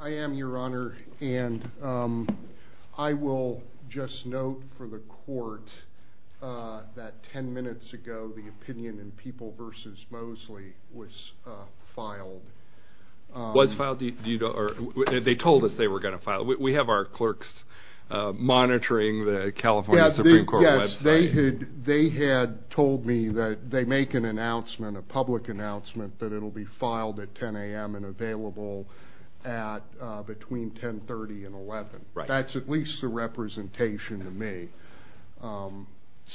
I am your honor and I will just note for the court that 10 minutes ago the opinion in People v. Mosley was filed. Was filed? They told us they were going to file. We have our clerks monitoring the California Supreme Court website. Yes, they had told me that they make an announcement, a public announcement available at between 1030 and 11. That's at least a representation to me.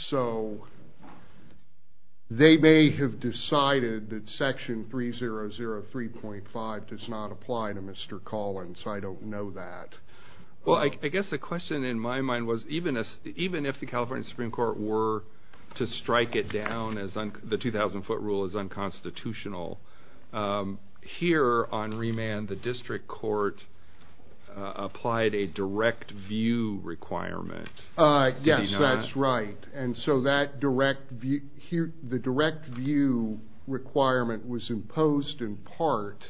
So they may have decided that section 3003.5 does not apply to Mr. Collins. I don't know that. Well, I guess the question in my mind was even if the California Supreme Court were to strike it down as the 2,000 foot rule is unconstitutional. Here on remand the district court applied a direct view requirement. Yes, that's right. And so that direct view here the direct view requirement was imposed in part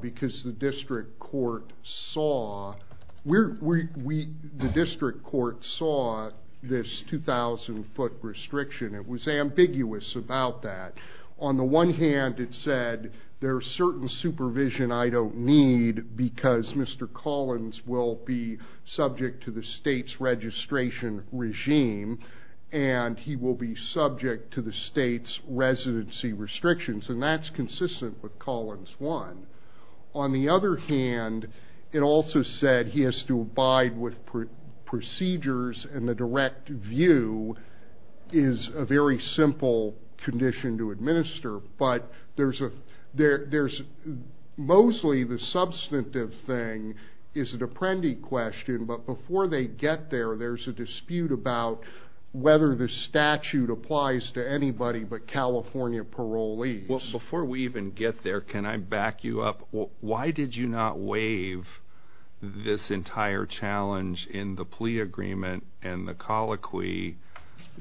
because the district court saw we're we the 2,000 foot restriction. It was ambiguous about that. On the one hand it said there are certain supervision I don't need because Mr. Collins will be subject to the state's registration regime and he will be subject to the state's residency restrictions and that's consistent with Collins one. On the other hand it also said he has to abide with procedures and the direct view is a very simple condition to administer but there's a there there's mostly the substantive thing is an apprendee question but before they get there there's a dispute about whether the statute applies to anybody but California parolees. Well before we even get there can I back you up why did you not waive this entire challenge in the plea agreement and the colloquy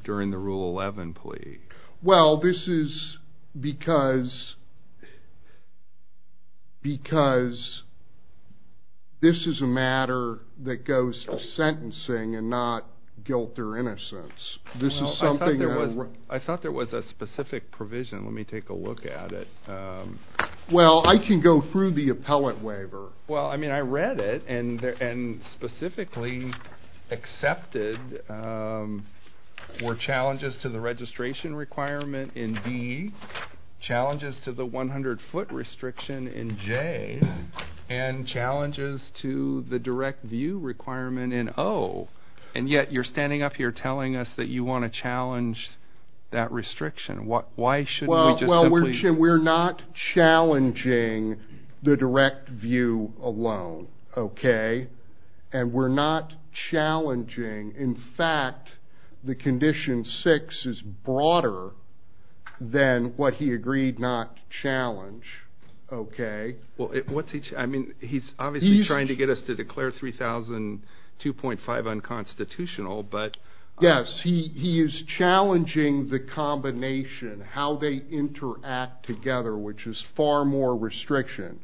during the rule 11 plea? Well this is because because this is a matter that goes to sentencing and not guilt or I thought there was a specific provision let me take a look at it. Well I can go through the appellate waiver. Well I mean I read it and and specifically accepted were challenges to the registration requirement in D, challenges to the 100 foot restriction in J, and challenges to the direct view requirement in O and yet you're standing up here telling us that you want to that restriction what why should we just simply. Well we're not challenging the direct view alone okay and we're not challenging in fact the condition six is broader than what he agreed not challenge okay. Well what's he I mean he's obviously trying to get us to declare 3,002.5 unconstitutional but. Yes he is challenging the combination how they interact together which is far more restriction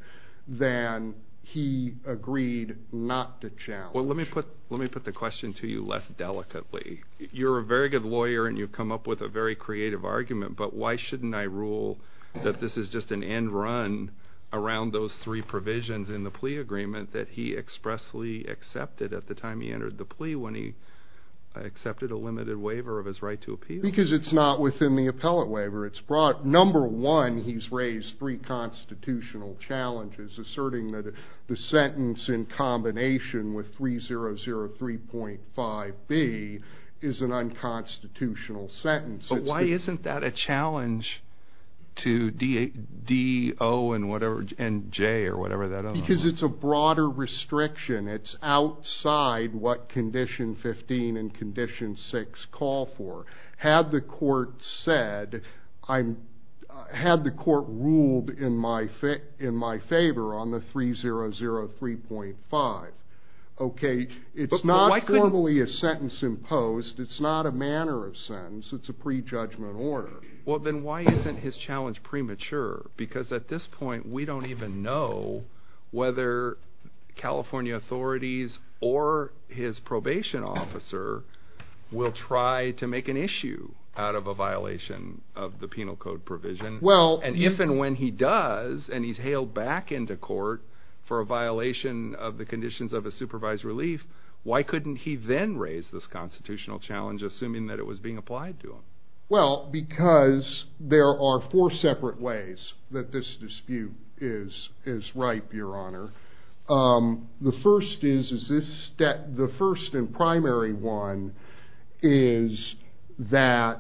than he agreed not to challenge. Well let me put let me put the question to you less delicately you're a very good lawyer and you've come up with a very creative argument but why shouldn't I rule that this is just an end run around those three provisions in the plea agreement that he expressly accepted at the time he entered the plea when he accepted a limited waiver of his right to appeal. Because it's not within the appellate waiver it's brought number one he's raised three constitutional challenges asserting that the sentence in combination with 3,003.5 B is an unconstitutional sentence. But why isn't that a challenge to D, O and whatever and J or whatever that is. Because it's a broader restriction it's outside what condition 15 and condition 6 call for. Had the court said I'm had the court ruled in my in my favor on the 3,003.5 okay it's not formally a sentence imposed it's not a manner of sentence it's a pre-judgment order. Well then why isn't his challenge premature because at this point we don't even know whether California authorities or his probation officer will try to make an issue out of a violation of the penal code provision. Well and if and when he does and he's hailed back into court for a violation of the conditions of a supervised relief why couldn't he then raise this constitutional challenge assuming that it was being applied to him. Well because there are four separate ways that this dispute is ripe your honor. The first is that the first and primary one is that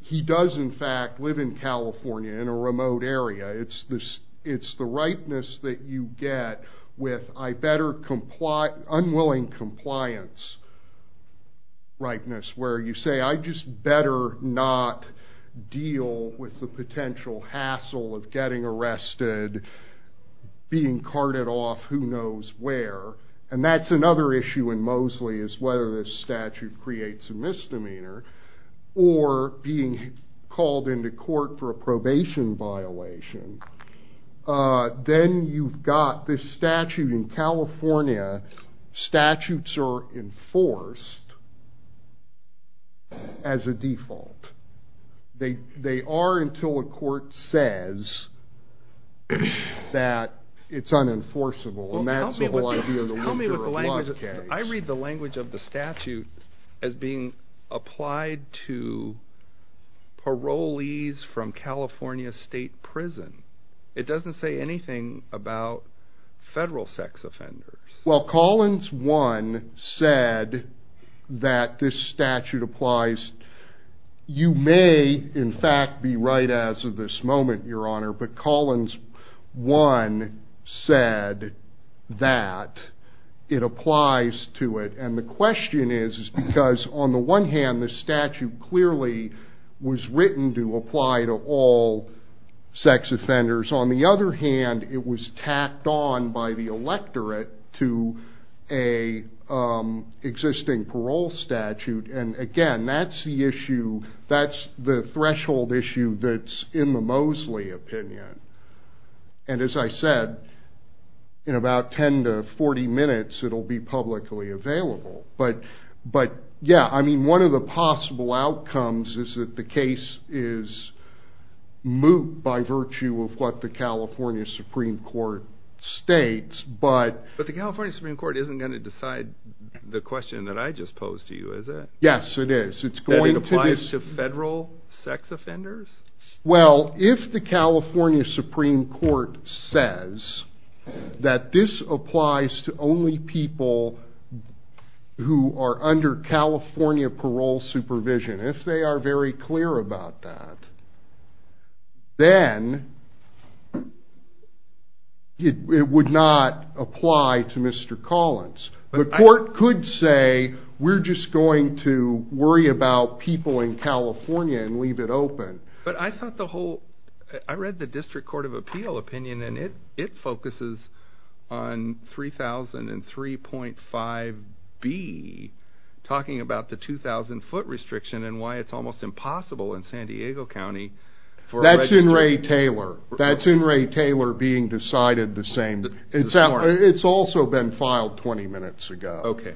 he does in fact live in California in a remote area it's this it's the unwilling compliance ripeness where you say I just better not deal with the potential hassle of getting arrested being carted off who knows where and that's another issue in Mosley is whether this statute creates a misdemeanor or being called into court for a probation violation. Then you've got this statute in California statutes are enforced as a default they they are until a court says that it's unenforceable. I read the language of the statute as being it doesn't say anything about federal sex offenders. Well Collins one said that this statute applies you may in fact be right as of this moment your honor but Collins one said that it applies to it and the question is because on the one hand the statute clearly was written to all sex offenders on the other hand it was tacked on by the electorate to a existing parole statute and again that's the issue that's the threshold issue that's in the Mosley opinion and as I said in about 10 to 40 minutes it'll be publicly available but but yeah I mean one of the possible outcomes is that the case is moot by virtue of what the California Supreme Court states but but the California Supreme Court isn't going to decide the question that I just posed to you is it yes it is it's going to apply to federal sex offenders well if the California Supreme Court says that this applies to only people who are under California parole supervision if they are very clear about that then it would not apply to Mr. Collins but the court could say we're just going to worry about people in California and leave it open but I thought the whole I read the District Court of Appeal opinion and it it focuses on 3003.5 be talking about the 2,000 foot restriction and why it's almost impossible in San Diego County for that's in Ray Taylor that's in Ray Taylor being decided the same it's out it's also been filed 20 minutes ago okay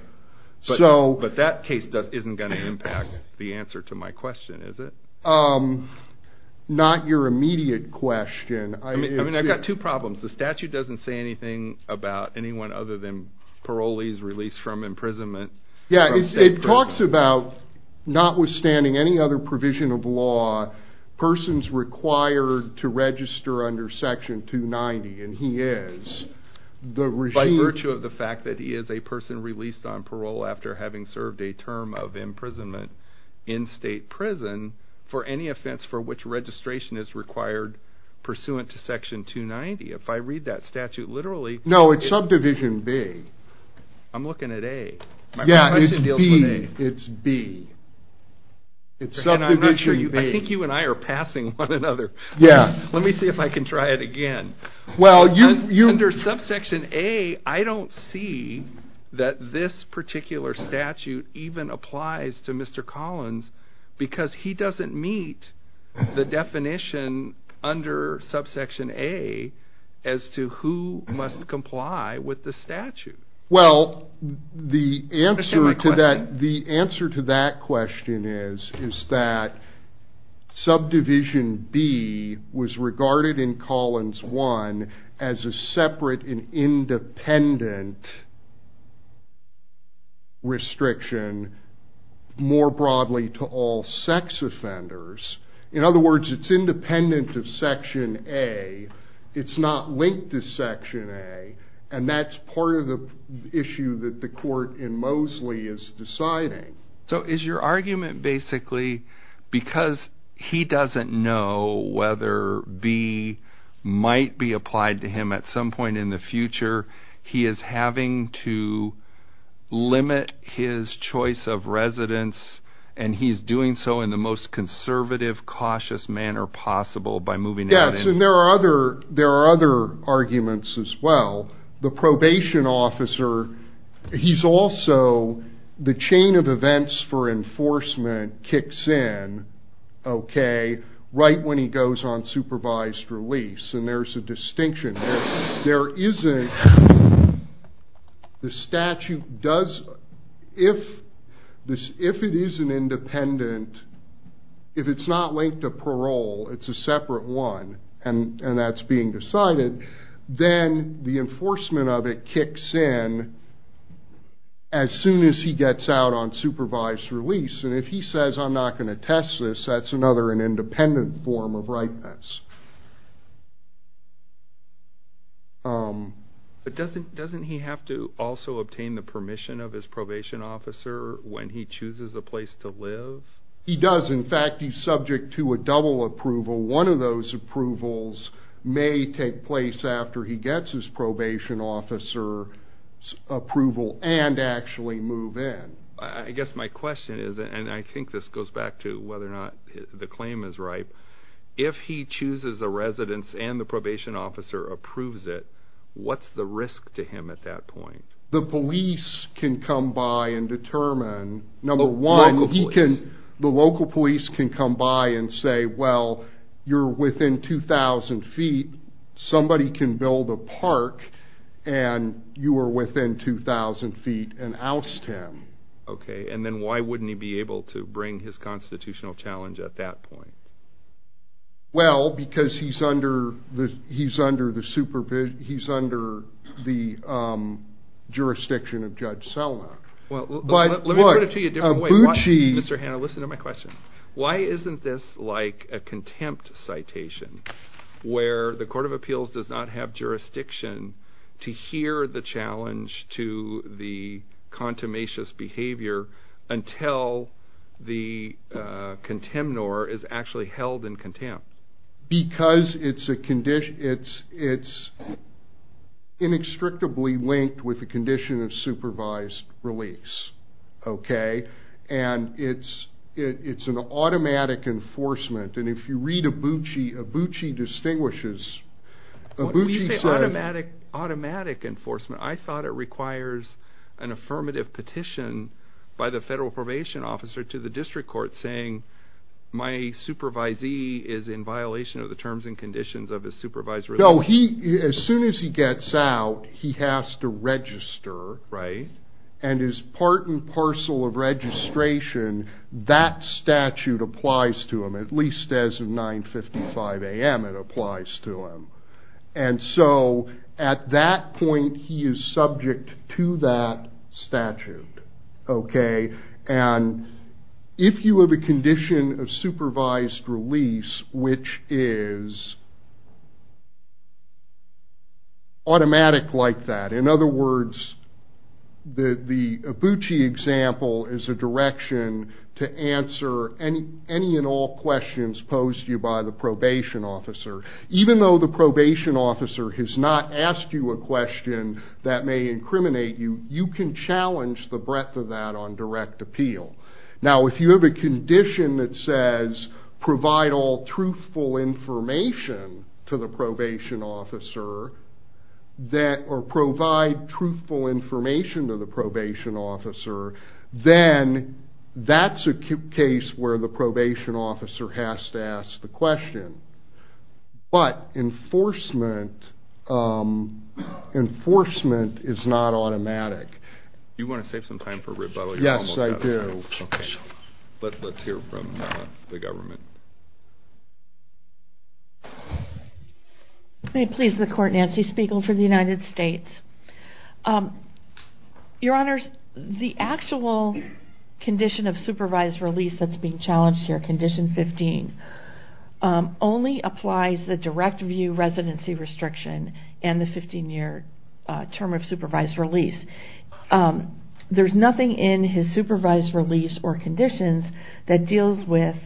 so but that case doesn't isn't going to impact the answer to my question is it not your immediate question I mean I've got two problems the statute doesn't say anything about anyone other than parolees released from imprisonment yeah it talks about notwithstanding any other provision of law persons required to register under section 290 and he is the regime virtue of the fact that he is a person released on parole after having served a term of imprisonment in state prison for any offense for which registration is required pursuant to section 290 if I read that statute literally no it's subdivision B I'm looking at a yeah it's B it's something I'm not sure you think you and I are passing one another yeah let me see if I can try it again well you you under subsection a I don't see that this particular statute even applies to mr. Collins because he doesn't meet the definition under subsection a as to who must comply with the statute well the answer to that the answer to that question is is that subdivision B was regarded in Collins one as a separate and dependent restriction more broadly to all sex offenders in other words it's independent of section a it's not linked to section a and that's part of the issue that the court in Mosley is deciding so is your argument basically because he doesn't know whether B might be applied to him at some point in the future he is having to limit his choice of residence and he's doing so in the most conservative cautious manner possible by moving yes and there are other there are other arguments as well the probation officer he's also the chain of events for enforcement kicks in okay right when he goes on supervised release and there's a distinction there isn't the statute does if this if it is an independent if it's not linked to parole it's a separate one and and that's being decided then the enforcement of it kicks in as soon as he gets out on supervised release and if he says I'm not going to test this that's another an independent form of ripeness but doesn't doesn't he have to also obtain the permission of his probation officer when he chooses a place to live he does in fact he's subject to a double approval one of those approvals may take place after he gets his probation officer approval and actually move in I guess my question is and I think this goes back to whether or not the claim is ripe if he chooses a residence and the probation officer approves it what's the risk to him at that point the police can come by and determine number one can the local police can come by and say well you're within two thousand feet somebody can build a park and you were within two thousand feet and oust him okay and then why wouldn't he be able to bring his constitutional challenge at that point well because he's under the he's Mr. Hannah listen to my question why isn't this like a contempt citation where the Court of Appeals does not have jurisdiction to hear the challenge to the contumacious behavior until the contemnor is actually held in contempt because it's a condition it's it's inextricably linked with the condition of supervised release okay and it's it's an automatic enforcement and if you read a Buchi a Buchi distinguishes automatic automatic enforcement I thought it requires an affirmative petition by the federal probation officer to the district court saying my supervisee is in violation of the terms and conditions of his supervisor oh he as soon as he gets out he has to register right and is part and parcel of registration that statute applies to him at least as of 955 a.m. it applies to him and so at that point he is subject to that statute okay and if you have a condition of supervised release which is automatic like that in other words the the Buchi example is a direction to answer any any and all questions posed you by the probation officer even though the probation officer has not asked you a question that may incriminate you you can challenge the breadth of that on direct appeal now if you have a condition that says provide all truthful information to the probation officer that or provide truthful information to the probation officer then that's a case where the probation officer has to ask the question but enforcement enforcement is not automatic you want to save some time for rebuttal yes I do but let's hear from the government please the court Nancy Spiegel for the United States your honors the actual condition of supervised release that's being challenged here condition 15 only applies the direct view residency restriction and the 15-year term of supervised release there's nothing in his supervised release or conditions that deals with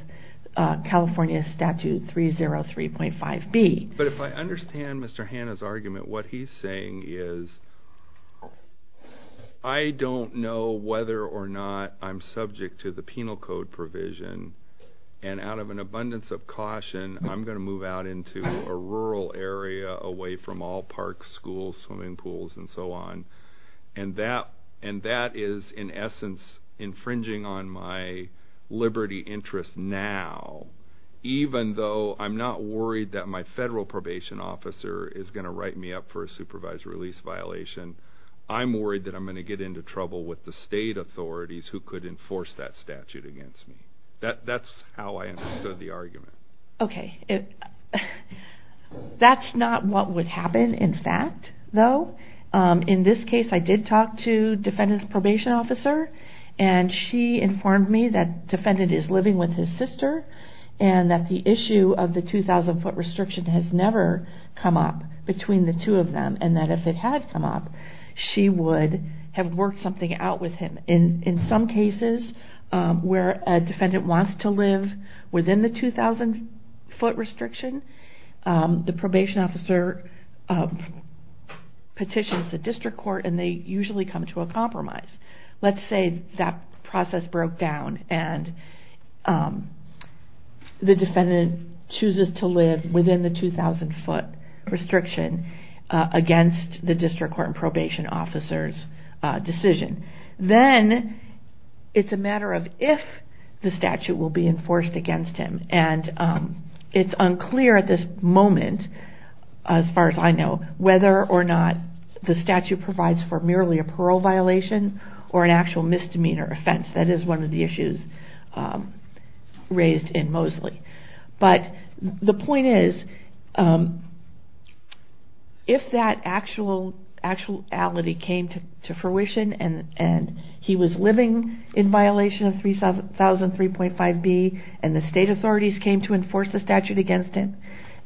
California statute 303.5 B but if I understand mr. Hannah's argument what he's saying is I don't know whether or not I'm subject to the penal code provision and out of an abundance of caution I'm going to move out into a rural area away from all parks schools swimming pools and so on and that and that is in essence infringing on my liberty interest now even though I'm not worried that my federal probation officer is going to write me up for a supervised release violation I'm worried that I'm going to get into trouble with the state authorities who could enforce that statute against me that that's how I understood the argument okay it that's not what would happen in fact though in this case I did talk to defendants probation officer and she informed me that defendant is living with his sister and that the issue of the 2,000 foot restriction has never come up between the two of them and that if it had come up she would have worked something out with him in in some cases where a defendant wants to live within the 2,000 foot restriction the probation officer petitions the district court and they usually come to a compromise let's say that process broke down and the defendant chooses to live within the 2,000 foot restriction against the district court and probation officers decision then it's a matter of if the statute will be enforced against him and it's unclear at this moment as far as I know whether or not the statute provides for merely a raised in Mosley but the point is if that actual actuality came to fruition and and he was living in violation of 3,000 3.5 B and the state authorities came to enforce the statute against him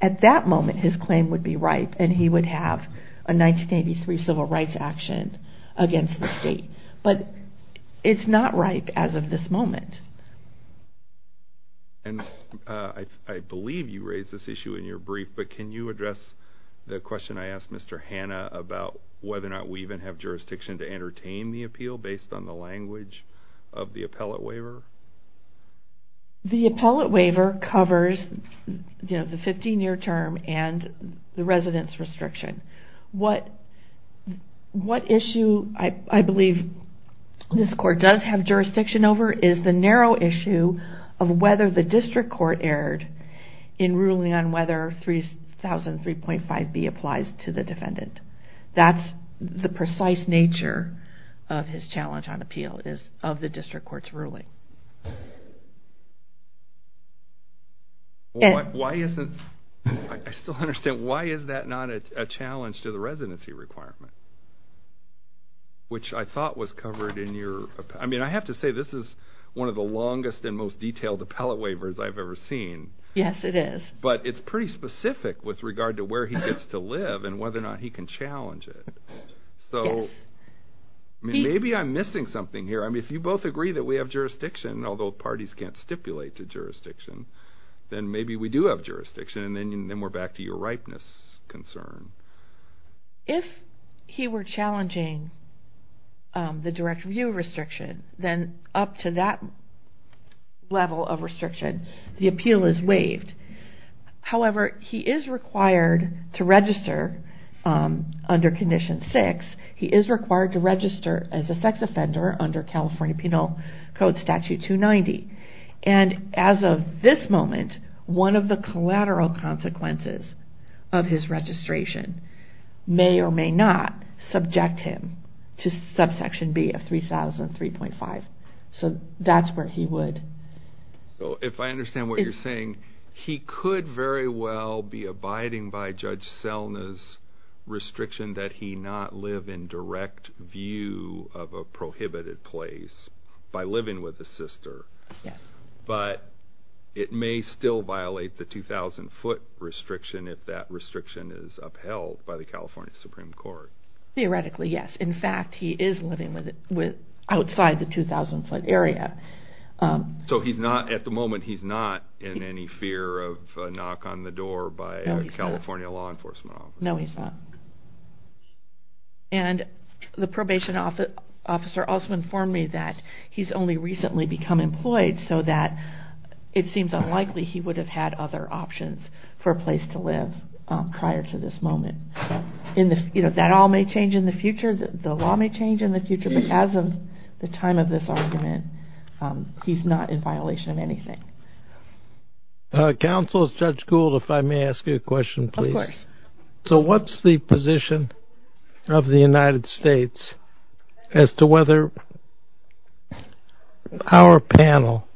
at that moment his claim would be ripe and he would have a 1983 civil rights action against the but it's not right as of this moment and I believe you raised this issue in your brief but can you address the question I asked mr. Hannah about whether or not we even have jurisdiction to entertain the appeal based on the language of the appellate waiver the appellate waiver covers you the residence restriction what what issue I believe this court does have jurisdiction over is the narrow issue of whether the district court erred in ruling on whether 3,000 3.5 B applies to the defendant that's the precise nature of his challenge on appeal is of the district court's ruling. Why isn't I still understand why is that not a challenge to the residency requirement which I thought was covered in your I mean I have to say this is one of the longest and most detailed appellate waivers I've ever seen yes it is but it's pretty specific with regard to where he gets to live and whether or not he can challenge it so maybe I'm missing something here I mean if both agree that we have jurisdiction although parties can't stipulate to jurisdiction then maybe we do have jurisdiction and then we're back to your ripeness concern if he were challenging the direct review restriction then up to that level of restriction the appeal is waived however he is required to register under condition six he is required to register as a sex offender under California Penal Code Statute 290 and as of this moment one of the collateral consequences of his registration may or may not subject him to subsection B of 3,000 3.5 so that's where he would so if I understand what you're saying he could very well be abiding by Judge Selna's restriction that he not live in direct view of a prohibited place by living with the sister yes but it may still violate the 2,000 foot restriction if that restriction is upheld by the California Supreme Court theoretically yes in fact he is living with it with outside the 2,000 foot area so he's not at the moment he's not in any fear of knock on the door by California law enforcement no he's not and the probation officer also informed me that he's only recently become employed so that it seems unlikely he would have had other options for a place to live prior to this moment in this you know that all may change in the future the law may change in the future but as of the time of this argument he's not in violation of anything counsels judge Gould if I may ask you a question so what's the position of the United States as to whether our panel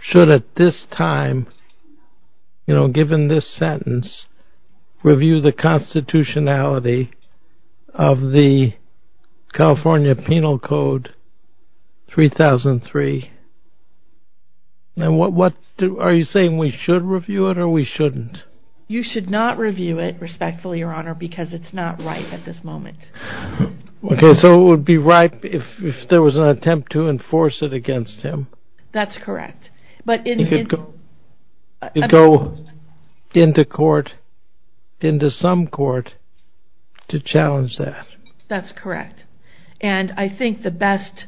should at this time you know given this sentence review the constitutionality of the California Penal Code 3003 and what what are you saying we should review it or we shouldn't you should not review it respectfully your honor because it's not right at this moment okay so it would be right if there was an attempt to enforce it against him that's correct but it could go into court into some court to challenge that that's correct and I think the best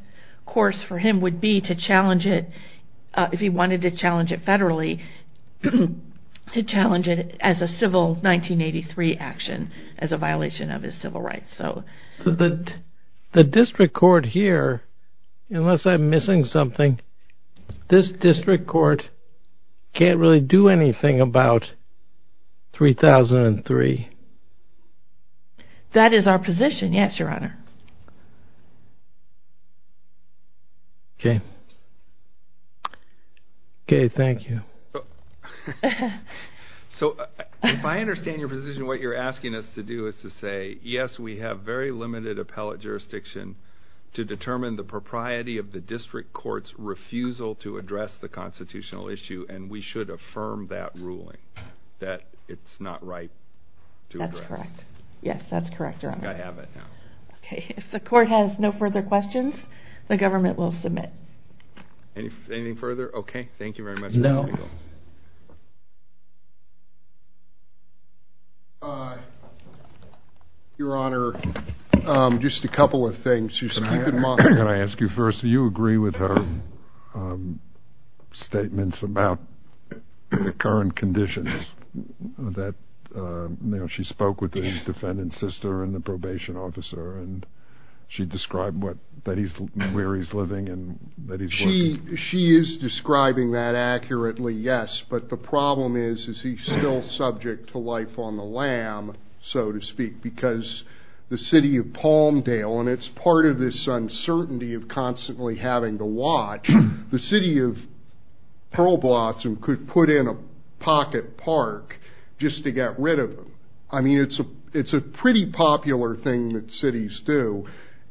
course for him would be to challenge it if he wanted to federally to challenge it as a civil 1983 action as a violation of his civil rights so that the district court here unless I'm missing something this district court can't really do anything about 3003 that is our position yes your honor okay okay thank you so if I understand your position what you're asking us to do is to say yes we have very limited appellate jurisdiction to determine the propriety of the district courts refusal to address the constitutional issue and we should affirm that ruling that it's not right that's correct yes that's correct or I have it now okay if the court has no further questions the government will submit anything further okay thank you very much no your honor just a couple of things you said I ask you first do you agree with her statements about the current conditions that you know she spoke with the defendant's sister and the probation officer and she described what that he's where he's living and she she is describing that accurately yes but the problem is is he still subject to life on the lam so to speak because the city of Palmdale and it's part of this uncertainty of constantly having to watch the city of Pearl Blossom could put in a pocket park just to get rid of them I mean it's a it's a pretty popular thing that cities do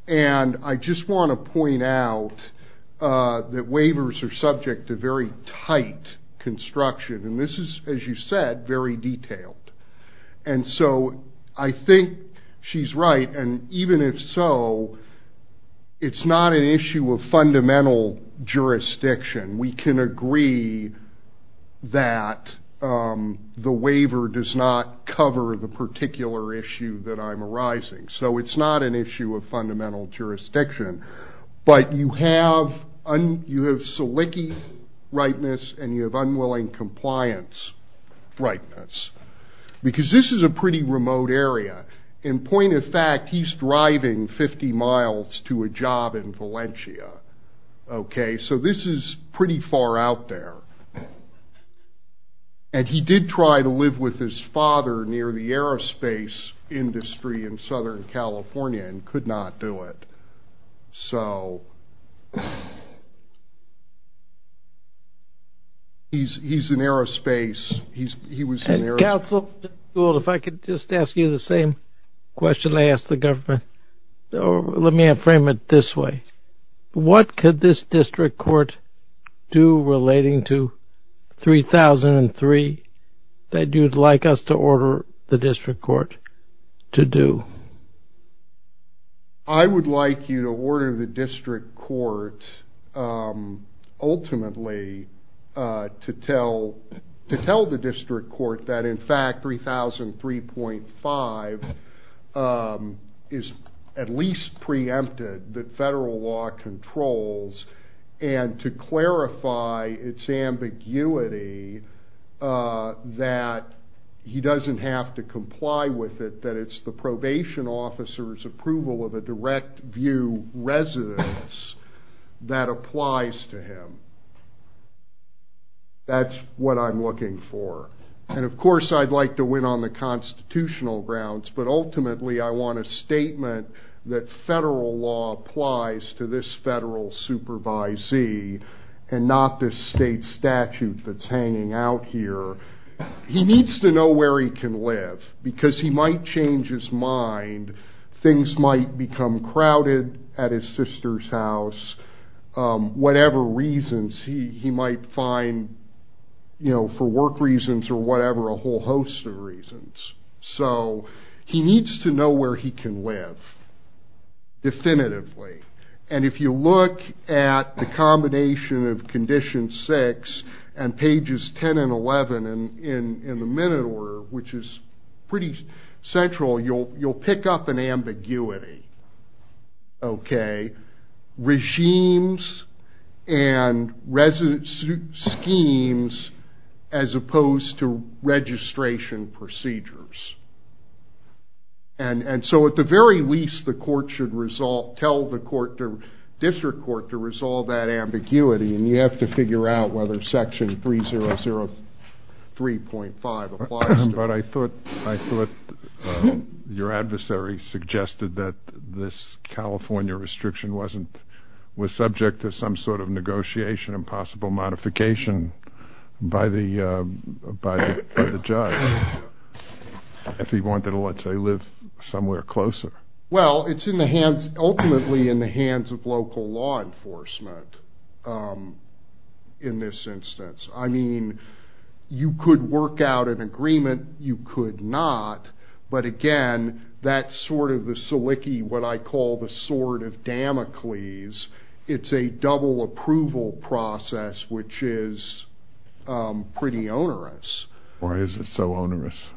and I just want to point out that waivers are subject to very tight construction and this is as you said very detailed and so I think she's right and even if so it's not an issue of fundamental jurisdiction we can agree that the waiver does not cover the particular issue that I'm arising so it's not an issue of fundamental jurisdiction but you have rightness and you have unwilling compliance rightness because this is a pretty remote area in point of fact he's driving 50 miles to a job in Valencia okay so this is pretty far out there and he did try to live with his father near the aerospace industry in Southern California and he's he's an aerospace he's he was a council if I could just ask you the same question I asked the government let me have frame it this way what could this district court do relating to 3003 that you'd like us to order the district court to do I would like you to order the district court ultimately to tell to tell the district court that in fact 3003.5 is at least preempted that he doesn't have to comply with it that it's the probation officers approval of a direct view residence that applies to him that's what I'm looking for and of course I'd like to win on the constitutional grounds but ultimately I want a statement that federal law applies to this federal supervisee and not this state statute that's hanging out here he needs to know where he can live because he might change his mind things might become crowded at his sister's house whatever reasons he might find you know for work reasons or whatever a whole host of reasons so he needs to know where he can live definitively and if you look at the combination of condition 6 and pages 10 and 11 and in the minute order which is pretty central you'll you'll pick up an ambiguity okay regimes and residence schemes as opposed to registration procedures and and so at the very least the court should resolve tell the court to district court to resolve that ambiguity and you have to figure out whether section 3003.5 applies but I thought I thought your adversary suggested that this California restriction wasn't was subject to some sort of negotiation and possible modification by the by the judge if he wanted to let's say live somewhere closer well it's in the hands ultimately in the hands of local law enforcement in this instance I mean you could work out an agreement you could not but again that's sort of the Saliki what I call the sword of Damocles it's a double approval process which is pretty onerous or is it so onerous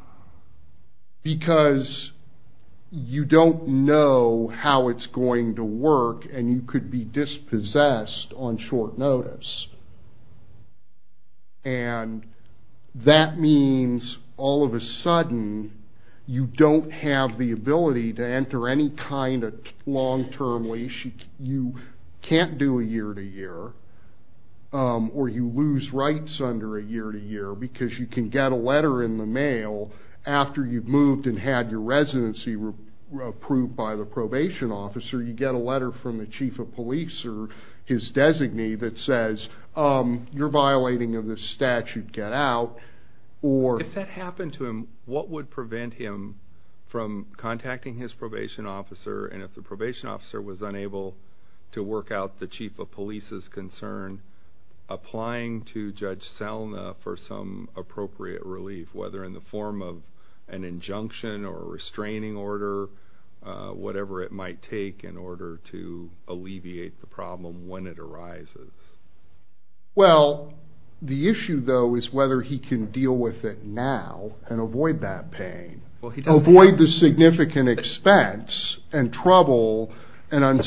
because you don't know how it's going to work and you could be dispossessed on short notice and that means all of a sudden you don't have the ability to enter any kind of long-term leash you can't do a year to year or you lose rights under a year to year because you can get a letter in the mail after you've moved and had your residency approved by the probation officer you get a letter from the chief of police or his designee that says you're violating of this statute get out or if that happened to him what would prevent him from contacting his probation officer and if the probation officer was unable to work out the chief of police's concern applying to judge Selma for some appropriate relief whether in the form of an injunction or restraining order whatever it might take in order to alleviate the problem when it arises well the issue though is whether he can deal with it now and avoid that pain well he don't avoid the significant expense and trouble and can only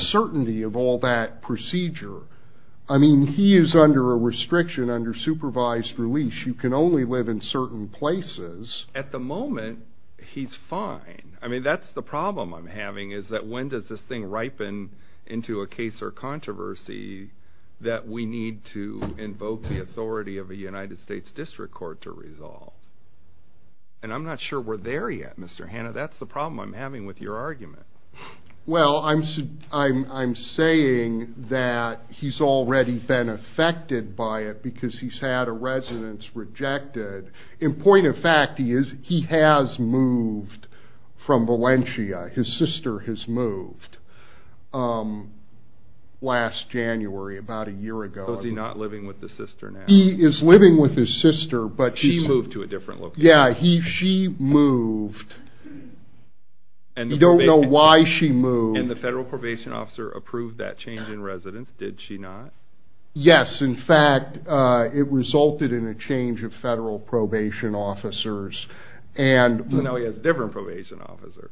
live in certain places at the moment he's fine I mean that's the problem I'm having is that when does this thing ripen into a case or controversy that we need to invoke the authority of a United States District Court to resolve and I'm not sure we're there yet mr. Hannah that's the problem I'm having with your argument well I'm I'm saying that he's already been affected by it because he's had a residence rejected in point of fact he is he has moved from Valencia his sister has moved last January about a year ago is he not living with the sister now he is living with his sister but she moved to a different look yeah he she moved and you don't know why she moved and the federal probation officer approved that change in residence did she not yes in fact it resulted in a change of federal probation officers and now he has different probation officer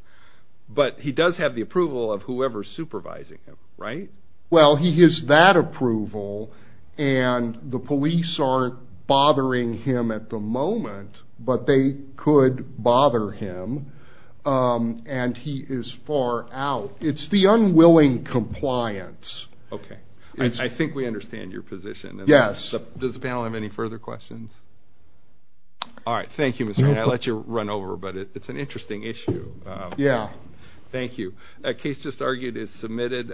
but he does have the approval of whoever's supervising him right well he gives that approval and the police aren't bothering him at the moment but they could bother him and he is out it's the unwilling compliance okay I think we understand your position yes does the panel have any further questions all right thank you mr. and I let you run over but it's an interesting issue yeah thank you a case just argued is submitted